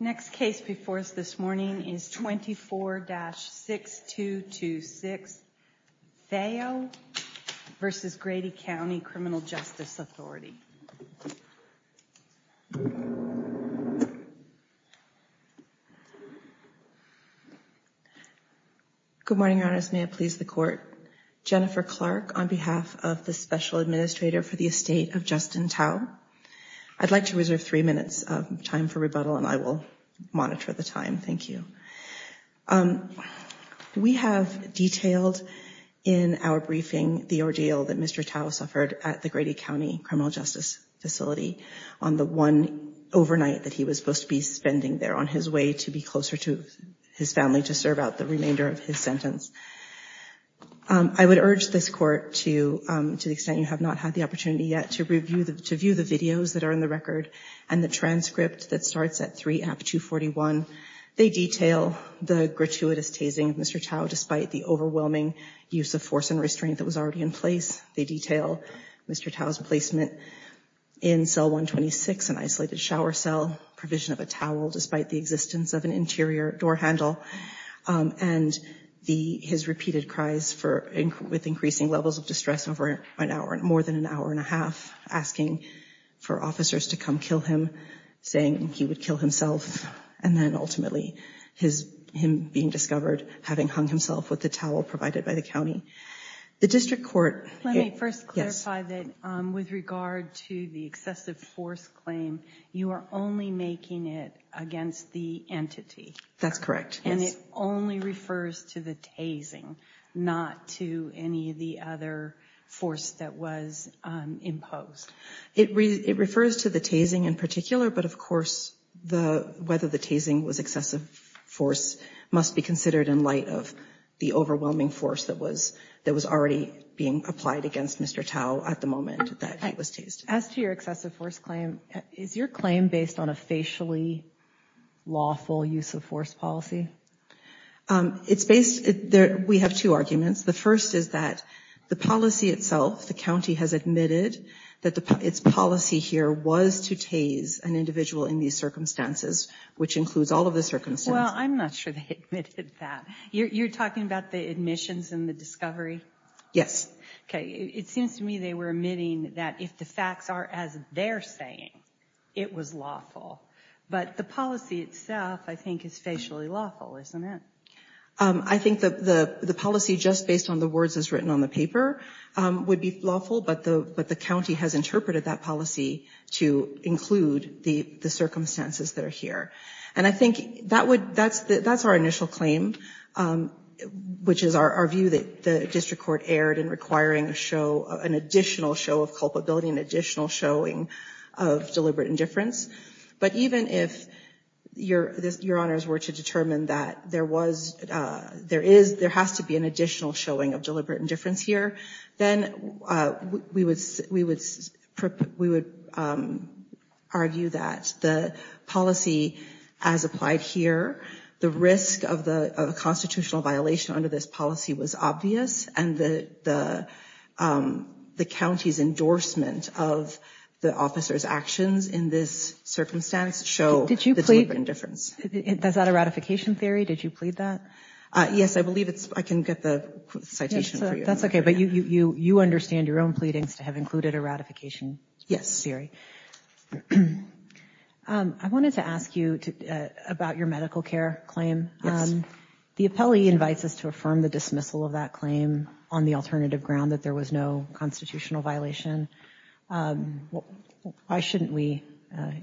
Next case before us this morning is 24-6226 Thao v. Grady County Criminal Justice Authority. Good morning, Your Honors. May it please the Court. Jennifer Clark on behalf of the Special Administrator for the Estate of Justin Thao. I'd like to reserve three minutes of time for monitor the time. Thank you. We have detailed in our briefing the ordeal that Mr. Thao suffered at the Grady County Criminal Justice Facility on the one overnight that he was supposed to be spending there on his way to be closer to his family to serve out the remainder of his sentence. I would urge this Court to the extent you have not had the opportunity yet to view the videos that are in the record and the transcript that starts at 3-AP-241, they detail the gratuitous tasing of Mr. Thao despite the overwhelming use of force and restraint that was already in place. They detail Mr. Thao's placement in cell 126, an isolated shower cell, provision of a towel despite the existence of an interior door handle, and his repeated cries with increasing levels of distress over an hour and more than an hour and a half, asking for officers to come kill him, saying he would kill himself, and then ultimately his him being discovered having hung himself with the towel provided by the County. The District Court... Let me first clarify that with regard to the excessive force claim, you are only making it against the entity. That's correct. And it only refers to the tasing, not to any of the other force that was imposed. It refers to the tasing in particular, but of course the whether the tasing was excessive force must be considered in light of the overwhelming force that was that was already being applied against Mr. Thao at the moment that he was tased. As to your excessive force claim, is your claim based on a facially lawful use of force policy? It's based... We have two arguments. The first is that the policy itself, the County has admitted that its policy here was to tase an individual in these circumstances, which includes all of the circumstances. Well, I'm not sure they admitted that. You're talking about the admissions and the discovery? Yes. Okay, it seems to me they were admitting that if the facts are as they're saying, it was lawful. But the policy itself, I think, is facially lawful, isn't it? I think that the policy just based on the words as written on the paper would be lawful, but the County has interpreted that policy to include the circumstances that are here. And I think that's our initial claim, which is our view that the District Court erred in requiring an additional show of culpability, an additional showing of deliberate indifference. But even if your honors were to determine that there has to be an additional showing of deliberate indifference here, then we would argue that the policy as applied here, the risk of a deliberate indifference policy was obvious, and the County's endorsement of the officer's actions in this circumstance show the deliberate indifference. Did you plead? Is that a ratification theory? Did you plead that? Yes, I believe I can get the citation for you. That's okay, but you understand your own pleadings to have included a ratification theory. Yes. I wanted to ask you about your medical care claim. The appellee invites us to affirm the dismissal of that claim on the alternative ground that there was no constitutional violation. Why shouldn't we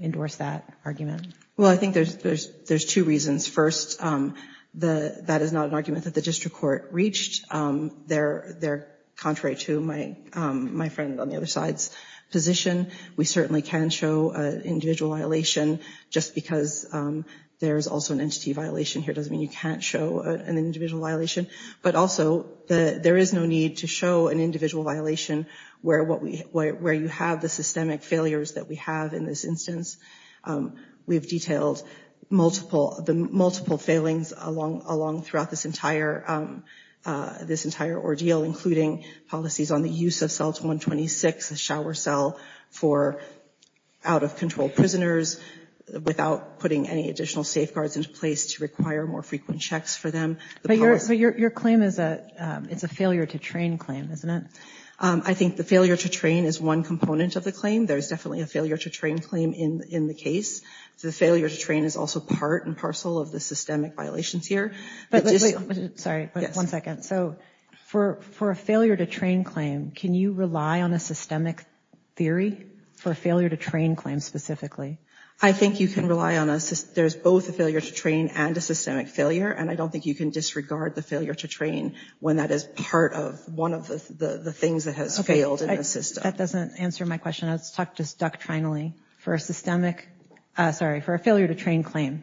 endorse that argument? Well, I think there's two reasons. First, that is not an argument that the District Court reached. They're contrary to my friend on the other side's position. We certainly can show individual violation just because there's also an entity violation here doesn't mean you can't show an individual violation. But also, there is no need to show an individual violation where you have the systemic failures that we have in this instance. We've detailed the multiple failings along throughout this entire ordeal, including policies on the use of cells 126, a shower cell for out-of-control prisoners without putting any additional safeguards into place to require more frequent checks for them. But your claim is a failure to train claim, isn't it? I think the failure to train is one component of the claim. There's definitely a failure to train claim in the case. The failure to train is also part and parcel of the systemic violations here. Sorry, one second. So for a failure to train claim, can you rely on a systemic theory for a failure to train claim specifically? I think you can rely on a system. There's both a failure to train and a systemic failure. And I don't think you can disregard the failure to train when that is part of one of the things that has failed in the system. That doesn't answer my question. Let's talk just doctrinally. For a failure to train claim,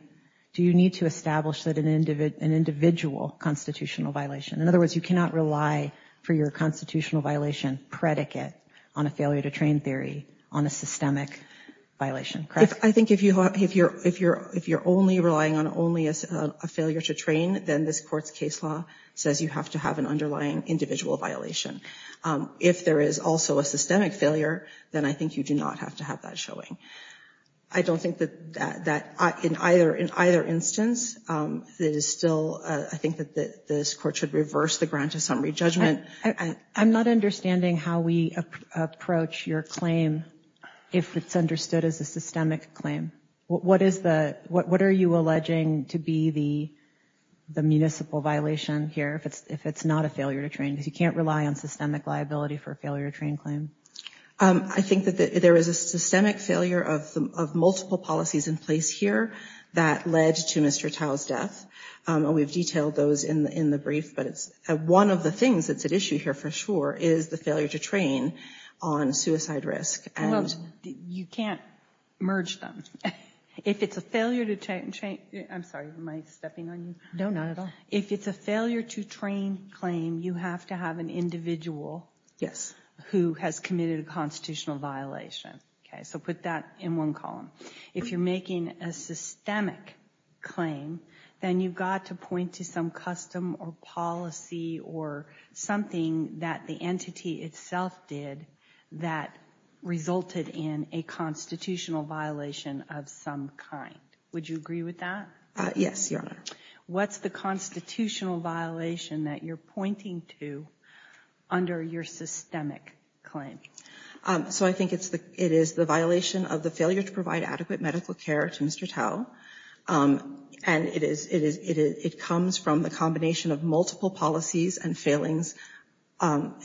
do you need to establish an individual constitutional violation? In other words, you cannot rely for your constitutional violation predicate on a failure to train theory on a systemic violation, correct? I think if you're only relying on only a failure to train, then this court's case law says you have to have an underlying individual violation. If there is also a systemic failure, then I think you do not have to have that showing. I don't think that in either instance, I think that this court should reverse the grant of summary judgment. I'm not understanding how we approach your claim if it's understood as a systemic claim. What are you alleging to be the municipal violation here if it's not a failure to train? Because you can't rely on systemic liability for a failure to train claim. I think that there is a systemic failure of multiple policies in place here that led to Mr. Tao's death. We've detailed those in the brief, but one of the things that's at issue here for sure is the failure to train on suicide risk. You can't merge them. If it's a failure to train claim, you have to have an individual who has committed a constitutional violation. So put that in one column. If you're making a systemic claim, then you've got to point to some custom or policy or something that the entity itself did that resulted in a constitutional violation of some kind. Would you agree with that? Yes, Your Honor. What's the constitutional violation that you're pointing to under your systemic claim? So I think it is the violation of the failure to provide adequate medical care to Mr. Tao. And it comes from the combination of multiple policies and failings,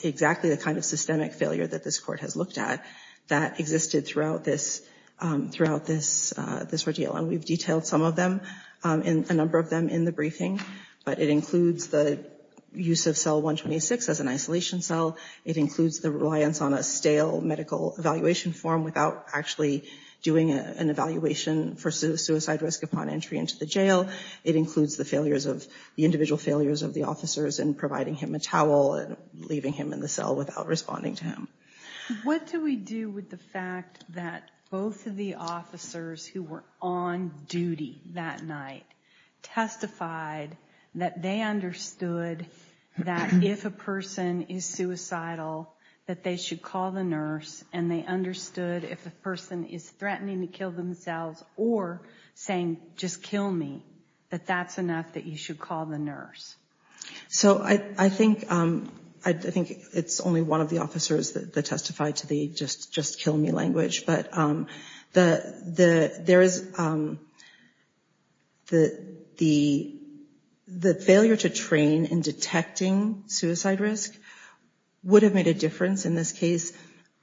exactly the kind of systemic failure that this court has looked at that existed throughout this ordeal. And we've detailed some of them, a number of them in the briefing. But it includes the use of cell 126 as an isolation cell. It includes the reliance on a stale medical evaluation form without actually doing an evaluation for suicide risk upon entry into the jail. It includes the leaving him in the cell without responding to him. What do we do with the fact that both of the officers who were on duty that night testified that they understood that if a person is suicidal, that they should call the nurse, and they understood if a person is threatening to kill themselves or saying, just kill me, that that's enough that you should call the nurse? So I think it's only one of the officers that testified to the just kill me language. But the failure to train in detecting suicide risk would have made a difference in this case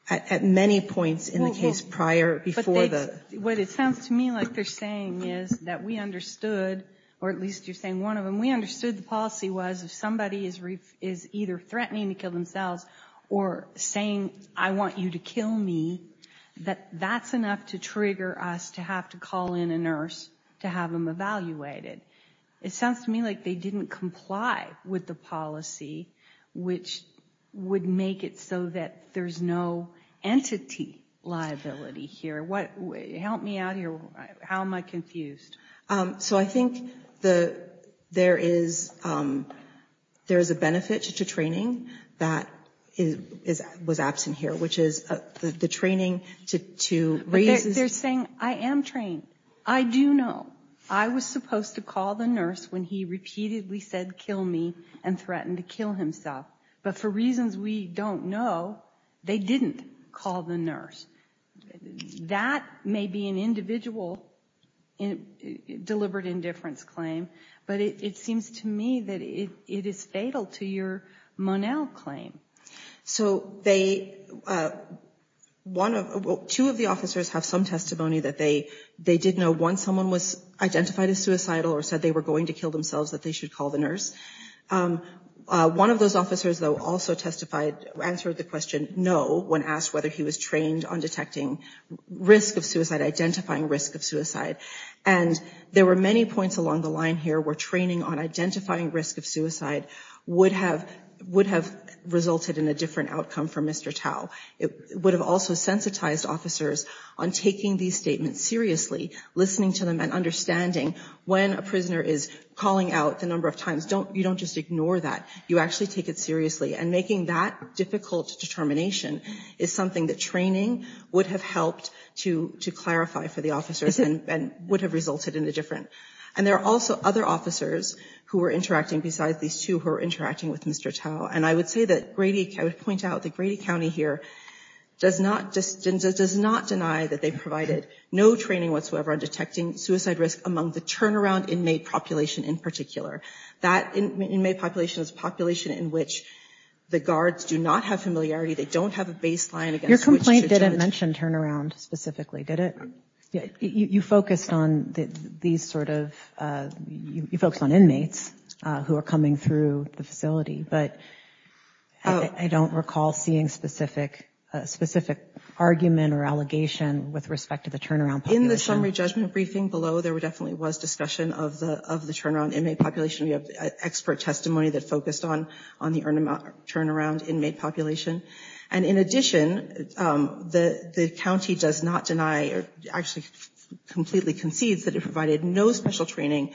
at many points in the case prior before the... What it sounds to me like they're saying is that we understood, or at least you're saying one of them, we understood the policy was if somebody is either threatening to kill themselves or saying, I want you to kill me, that that's enough to trigger us to have to call in a nurse to have them evaluated. It sounds to me like they didn't comply with the policy, which would make it so that there's no entity liability here. Help me out here. How am I confused? So I think there is a benefit to training that was absent here, which is the training to raise... They're saying, I am trained. I do know. I was supposed to call the nurse when he repeatedly said kill me and threatened to kill himself. But for reasons we don't know, they didn't call the nurse. That may be an individual deliberate indifference claim, but it seems to me that it is fatal to your Monell claim. So two of the officers have some testimony that they did know once someone was identified as suicidal or said they were going to kill themselves that they should call the nurse. One of those officers, though, also testified, answered the question, no, when asked whether he was trained on detecting risk of suicide, identifying risk of suicide. And there were many points along the line here where training on identifying risk of suicide would have resulted in a different outcome for Mr. Tao. It would have also sensitized officers on taking these statements seriously, listening to them and understanding when a prisoner is calling out the number of times. You don't just ignore that. You actually take it seriously. And making that difficult determination is something that training would have helped to clarify for the officers and would have resulted in a different. And there are also other officers who were interacting besides these two who were interacting with Mr. Tao. And I would point out that Grady County here does not deny that they provided no training whatsoever on detecting suicide risk among the turnaround inmate population in particular. That inmate population is a population in which the guards do not have familiarity. They don't have a baseline against which to judge. Your complaint didn't mention turnaround specifically, did it? You focused on these sort of, you focused on inmates who are coming through the facility. But I don't recall seeing specific argument or allegation with respect to the turnaround population. In the summary judgment briefing below, there definitely was discussion of the turnaround inmate population. We have expert testimony that focused on the turnaround inmate population. And in addition, the county does not deny or actually completely concedes that it provided no special training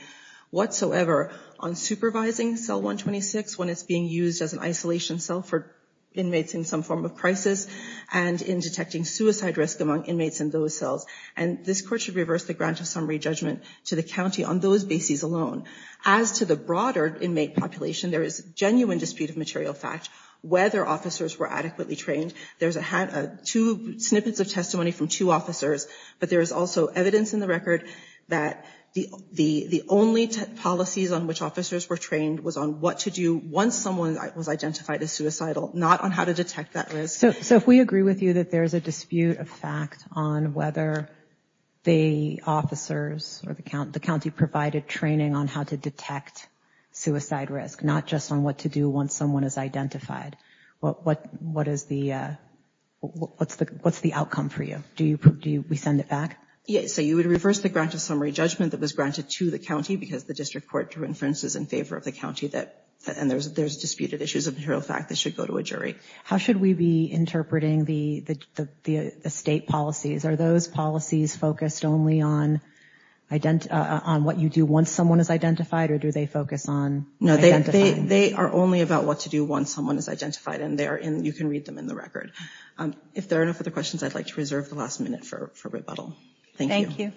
whatsoever on supervising cell 126 when it's being used as an isolation cell for inmates in some form of crisis and in detecting suicide risk among inmates in those cells. And this court should reverse the grant of summary judgment to the county on those bases alone. As to the broader inmate population, there is genuine dispute of material fact whether officers were adequately trained. There's two snippets of testimony from two officers, but there is also evidence in the record that the only policies on which officers were trained was on what to do once someone was identified as suicidal, not on how to detect that risk. So if we agree with you that there is a dispute of fact on whether the officers or the county provided training on how to detect suicide risk, not just on what to do once someone is identified, what's the outcome for you? Do we send it back? Yes. So you would reverse the grant of summary judgment that was granted to the county because the district court drew inferences in favor of the county and there's disputed issues of material fact that should go to a jury. How should we be interpreting the state policies? Are those policies focused only on what you do once someone is identified or do they focus on identifying? They are only about what to do once someone is identified and you can read them in the record. If there are no further questions, I'd like to reserve the last minute for rebuttal. Thank you.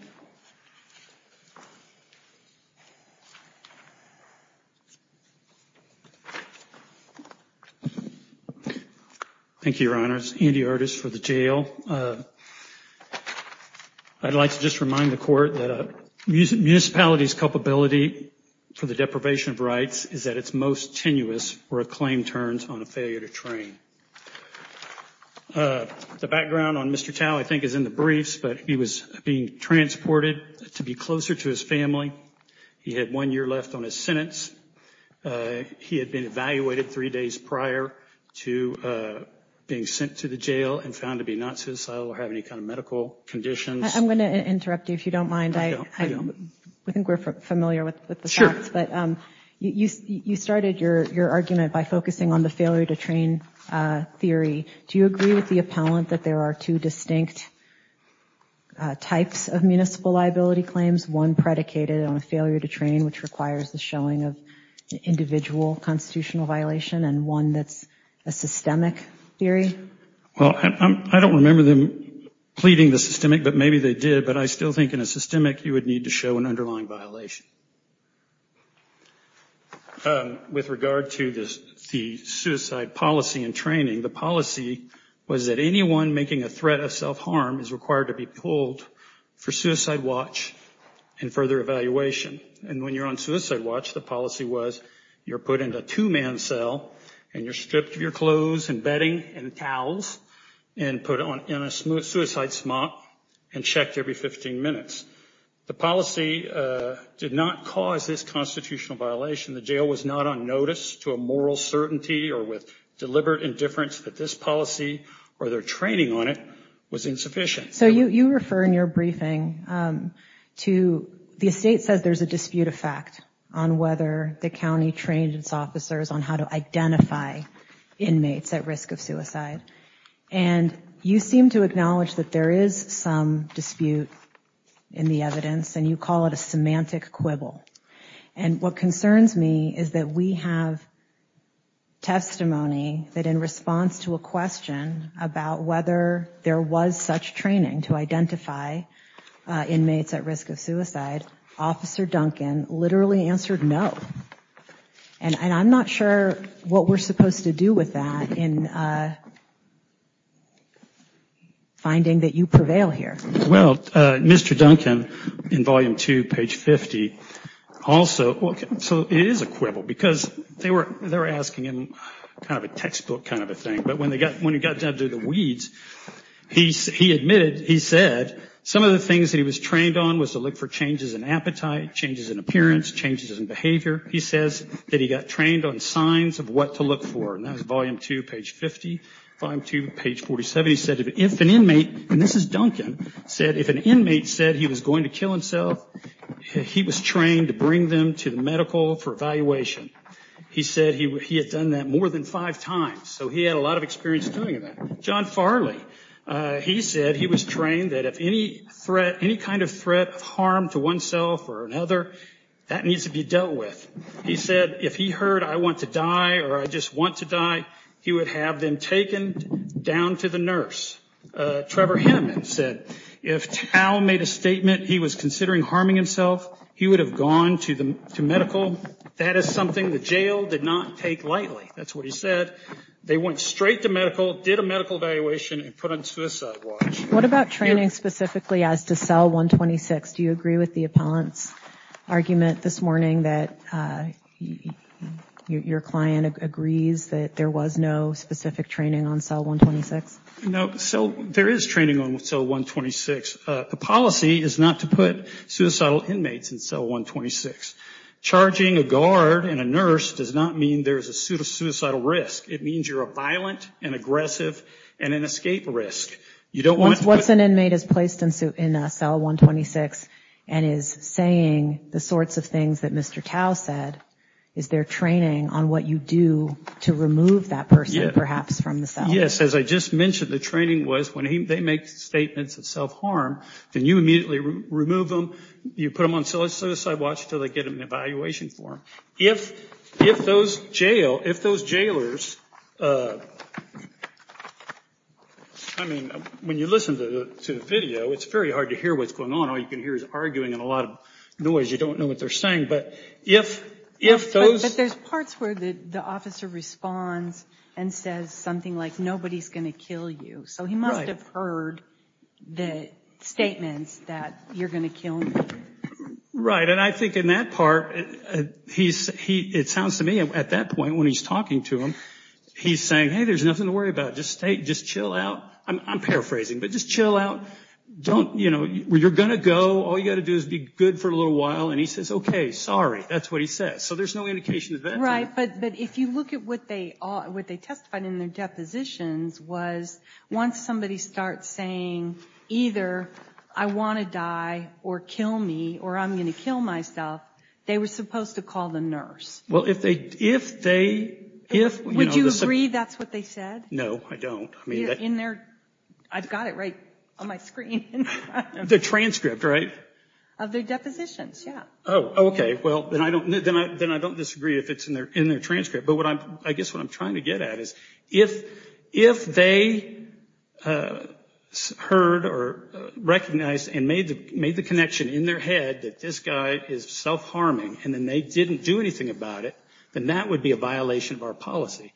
Thank you, Your Honors. Andy Artis for the Jail. I'd like to just remind the Court that a municipality's culpability for the deprivation of rights is at its most tenuous where a claim turns on a failure to train. Thank you. The background on Mr. Tao I think is in the briefs, but he was being transported to be closer to his family. He had one year left on his sentence. He had been evaluated three days prior to being sent to the jail and found to be not suicidal or have any kind of medical conditions. I'm going to interrupt you if you don't mind. I think we're familiar with the facts, but you started your argument by focusing on the failure to train theory. Do you agree with the appellant that there are two distinct types of municipal liability claims, one predicated on a failure to train which requires the showing of individual constitutional violation and one that's a systemic theory? I don't remember them pleading the systemic, but maybe they did, but I still think in a systemic you would need to show an underlying violation. With regard to the suicide policy and training, the policy was that anyone making a threat of self-harm is required to be pulled for suicide watch and further evaluation. When you're on suicide watch, the policy was you're put into a two-man cell and you're stripped of your clothes and bedding and towels and put on a suicide smock and checked every 15 minutes. The policy did not cause this constitutional violation. The jail was not on notice to a moral certainty or with deliberate indifference that this policy or their training on it was insufficient. So you refer in your briefing to the estate says there's a dispute effect on whether the county trained its officers on how to identify inmates at risk of suicide, and you seem to acknowledge that there is some dispute in the evidence and you call it a semantic quibble. And what concerns me is that we have testimony that in response to a question about whether there was such training to identify inmates at risk of suicide, Officer Duncan literally answered no. And I'm not sure what we're supposed to do with that in finding that you prevail here. Well, Mr. Duncan, in volume two, page 50, also, so it is a quibble because they were asking him kind of a textbook kind of a thing, but when he got down to the weeds, he admitted, he said some of the things that he was trained on was to look for changes in appetite, changes in appearance, changes in behavior. He says that he got trained on signs of what to look for, and that was volume two, page 50. Volume two, page 47, he said if an inmate, and this is Duncan, said if an inmate said he was going to kill himself, he was trained to bring them to the medical for evaluation. He said he had done that more than five times, so he had a lot of experience doing that. John Farley, he said he was trained that if any threat, any kind of threat of harm to oneself or another, that needs to be dealt with. He said if he heard I want to die or I just want to die, he would have them taken down to the nurse. Trevor Hinneman said if Tao made a statement he was considering harming himself, he would have gone to medical. That is something the jail did not take lightly. That's what he said. They went straight to medical, did a medical evaluation, and put on suicide watch. What about training specifically as to cell 126? Do you agree with the appellant's argument this morning that your client agrees that there was no specific training on cell 126? No, there is training on cell 126. The policy is not to put suicidal inmates in cell 126. Charging a guard and a nurse does not mean there's a suicidal risk. It means you're a violent and aggressive and an escape risk. What's an inmate is placed in cell 126 and is saying the sorts of things that Mr. Tao said, is there training on what you do to remove that person perhaps from the cell? Yes, as I just mentioned, the training was when they make statements of self-harm, then you immediately remove them. You put them on suicide watch until they get an evaluation for them. If those jailers, I mean, when you listen to the video, it's very hard to hear what's going on. All you can hear is arguing and a lot of noise. You don't know what they're saying. But if those... But there's parts where the officer responds and says something like nobody's going to kill you. So he must have heard the statements that you're going to kill me. Right, and I think in that part, it sounds to me at that point when he's talking to him, he's saying, hey, there's nothing to worry about. Just chill out. I'm paraphrasing, but just chill out. You're going to go. All you've got to do is be good for a little while. And he says, okay, sorry. That's what he says. So there's no indication of that. Right, but if you look at what they testified in their depositions was once somebody starts saying either I want to die or kill me or I'm going to kill myself, they were supposed to call the nurse. Well, if they... Would you agree that's what they said? No, I don't. I've got it right on my screen. The transcript, right? Of their depositions, yeah. Oh, okay. Well, then I don't disagree if it's in their transcript. But I guess what I'm trying to get at is if they heard or recognized and made the connection in their head that this guy is self-harming and then they didn't do anything about it, then that would be a violation of our policy.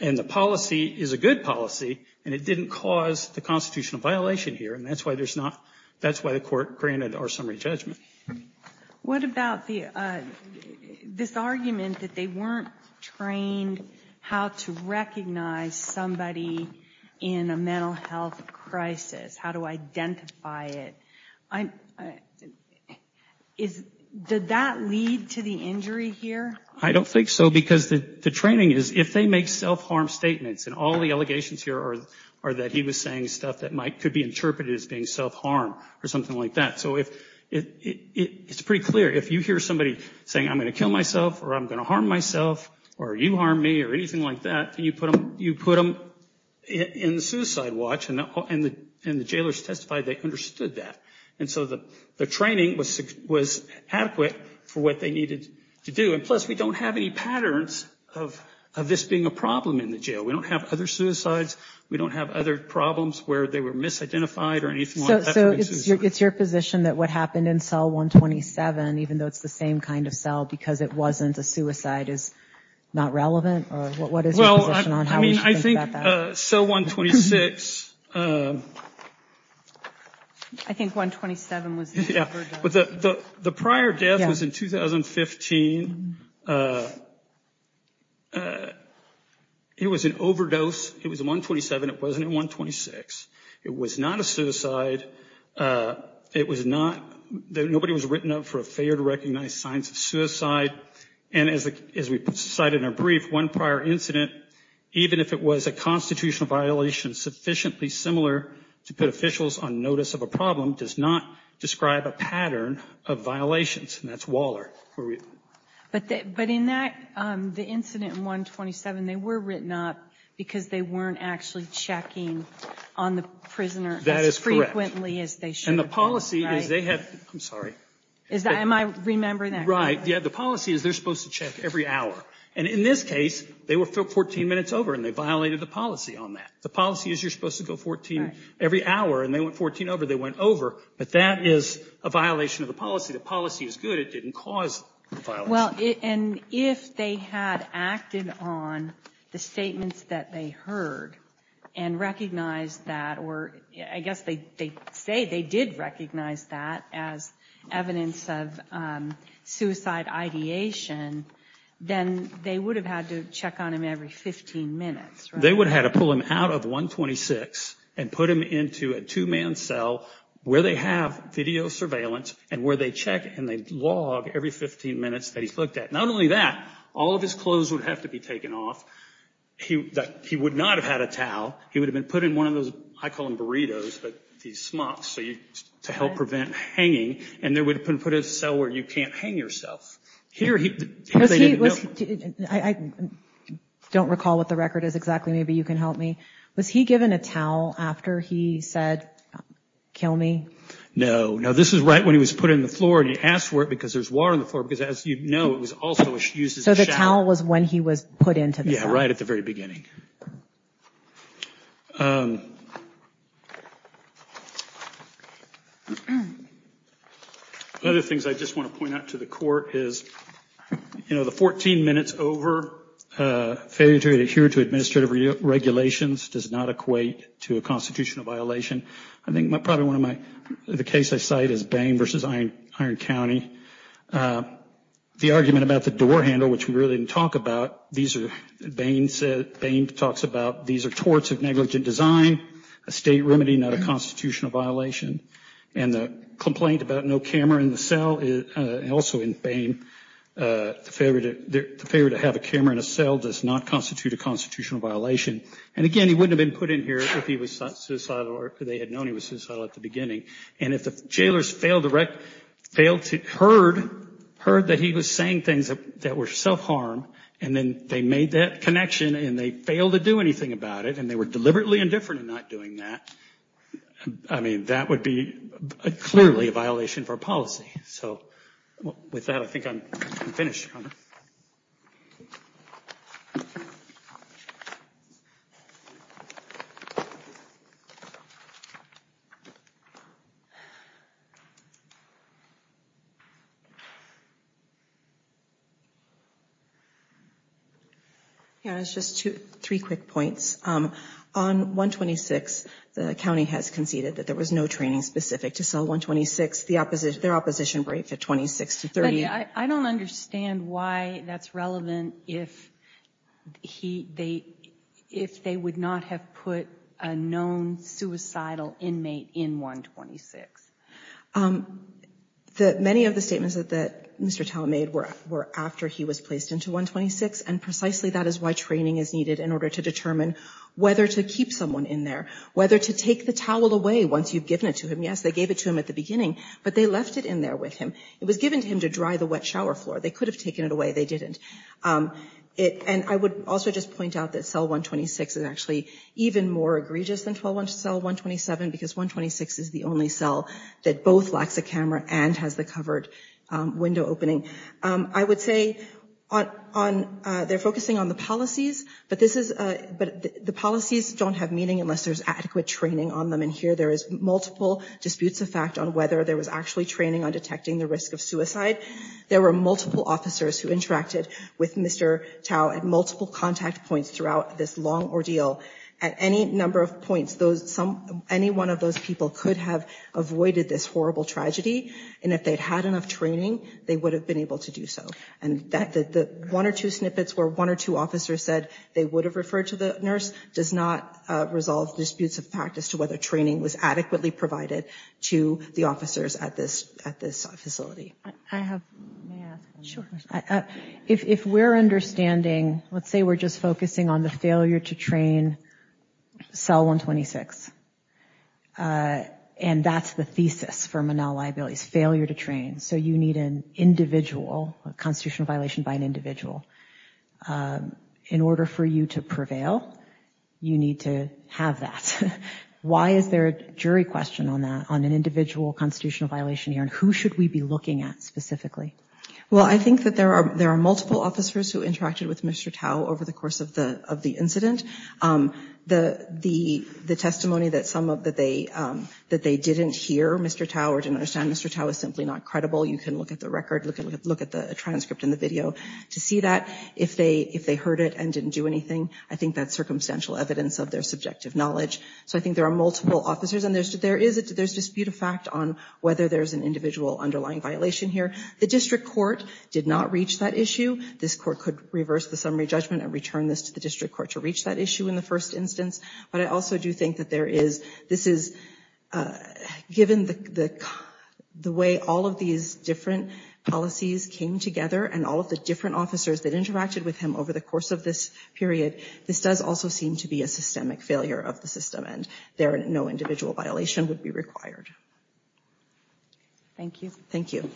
And the policy is a good policy, and it didn't cause the constitutional violation here. And that's why there's not... That's why the court granted our summary judgment. What about this argument that they weren't trained how to recognize somebody in a mental health crisis, how to identify it? Did that lead to the injury here? I don't think so, because the training is if they make self-harm statements, and all the allegations here are that he was saying stuff that could be interpreted as being self-harm or something like that. So it's pretty clear if you hear somebody saying, I'm going to kill myself or I'm going to harm myself or you harm me or anything like that, you put them in the suicide watch and the jailers testified they understood that. And so the training was adequate for what they needed to do. And plus, we don't have any patterns of this being a problem in the jail. We don't have other suicides. We don't have other problems where they were misidentified or anything like that. So it's your position that what happened in cell 127, even though it's the same kind of cell because it wasn't a suicide, is not relevant? Well, I think cell 126... I think 127 was... Yeah, but the prior death was in 2015. It was an overdose. It was in 127. It wasn't in 126. It was not a suicide. It was not... Nobody was written up for a failure to recognize signs of suicide. And as we cited in our brief, one prior incident, even if it was a constitutional violation sufficiently similar to put officials on notice of a problem, does not describe a pattern of violations. And that's Waller. But in that, the incident in 127, they were written up because they weren't actually checking on the prisoner as frequently as they should have been. And the policy is they have... I'm sorry. Am I remembering that correctly? The policy is they're supposed to check every hour. And in this case, they were 14 minutes over and they violated the policy on that. The policy is you're supposed to go 14 every hour and they went 14 over. They went over. But that is a violation of the policy. The policy is good. It didn't cause the violation. Well, and if they had acted on the statements that they heard and recognized that, or I guess they say they did recognize that as evidence of suicide ideation, then they would have had to check on him every 15 minutes. They would have had to pull him out of 126 and put him into a two-man cell where they have video surveillance and where they check and they log every 15 minutes that he's looked at. Not only that, all of his clothes would have to be taken off. He would not have had a towel. He would have had these smocks to help prevent hanging. And they would have put him in a cell where you can't hang yourself. Here, he played in the building. I don't recall what the record is exactly. Maybe you can help me. Was he given a towel after he said, kill me? No. No, this is right when he was put in the floor and he asked for it because there's water on the floor. Because as you know, it was also used as a shower. So the towel was when he was put into the cell? Yeah, right at the very beginning. One of the things I just want to point out to the court is, you know, the 14 minutes over, failure to adhere to administrative regulations does not equate to a constitutional violation. I think probably one of my, the case I cite is Bain v. Iron County. The argument about the door handle, which we really didn't talk about, these are, Bain said, talks about these are torts of negligent design, a state remedy, not a constitutional violation. And the complaint about no camera in the cell, also in Bain, the failure to have a camera in a cell does not constitute a constitutional violation. And again, he wouldn't have been put in here if he was suicidal or if they had known he was suicidal at the beginning. And if the jailers failed to heard that he was saying things that were self-harm, and then they made that connection and they failed to do anything about it, and they were deliberately indifferent in not doing that, I mean, that would be clearly a violation for policy. So with that, I think I'm finished. Yeah, it's just two, three quick points. On 126, the county has conceded that there was no training specific to cell 126. The opposition, their opposition braved the 26 to 38. I don't understand why that's relevant if he, they, if they would not have put a known suicidal inmate in 126. Many of the statements that Mr. Talmadge made were after he was placed into 126, and precisely that is why training is needed in order to determine whether to keep someone in there, whether to take the towel away once you've given it to him. Yes, they gave it to him at the beginning, but they left it in there with him. It was given to him to dry the wet shower floor. They could have taken it away. They didn't. And I would also just point out that cell both lacks a camera and has the covered window opening. I would say on, they're focusing on the policies, but this is, the policies don't have meaning unless there's adequate training on them. And here there is multiple disputes of fact on whether there was actually training on detecting the risk of suicide. There were multiple officers who interacted with Mr. Tao at multiple contact points throughout this long ordeal. At any number of points, those, any one of those people could have avoided this horrible tragedy, and if they'd had enough training, they would have been able to do so. And the one or two snippets where one or two officers said they would have referred to the nurse does not resolve disputes of practice to whether training was adequately provided to the officers at this facility. I have, may I ask? Sure. If we're understanding, let's say we're just focusing on the failure to train cell 126, and that's the thesis for Manal Liabilities, failure to train. So you need an individual, a constitutional violation by an individual. In order for you to prevail, you need to have that. Why is there a jury question on that, on an individual constitutional violation here, and who should we be looking at specifically? Well, I think that there are, there are multiple officers who interacted with Mr. Tao over the course of the, of the incident. The, the, the testimony that some of, that they, that they didn't hear Mr. Tao or didn't understand Mr. Tao is simply not credible. You can look at the record, look at, look at the transcript in the video to see that. If they, if they heard it and didn't do anything, I think that's circumstantial evidence of their subjective knowledge. So I think there are multiple officers, and there's, there is a, there's dispute of fact on whether there's an individual underlying violation here. The district court did not reach that issue. This court could reverse the summary judgment and return this to the district court to reach that issue in the first instance. But I also do think that there is, this is, given the, the, the way all of these different policies came together and all of the different officers that interacted with him over the course of this period, this does also seem to be a systemic failure of the system, and there, no individual violation would be required. Thank you. Thank you.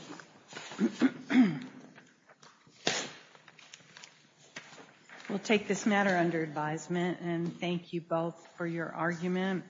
We'll take this matter under advisement, and thank you both for your argument.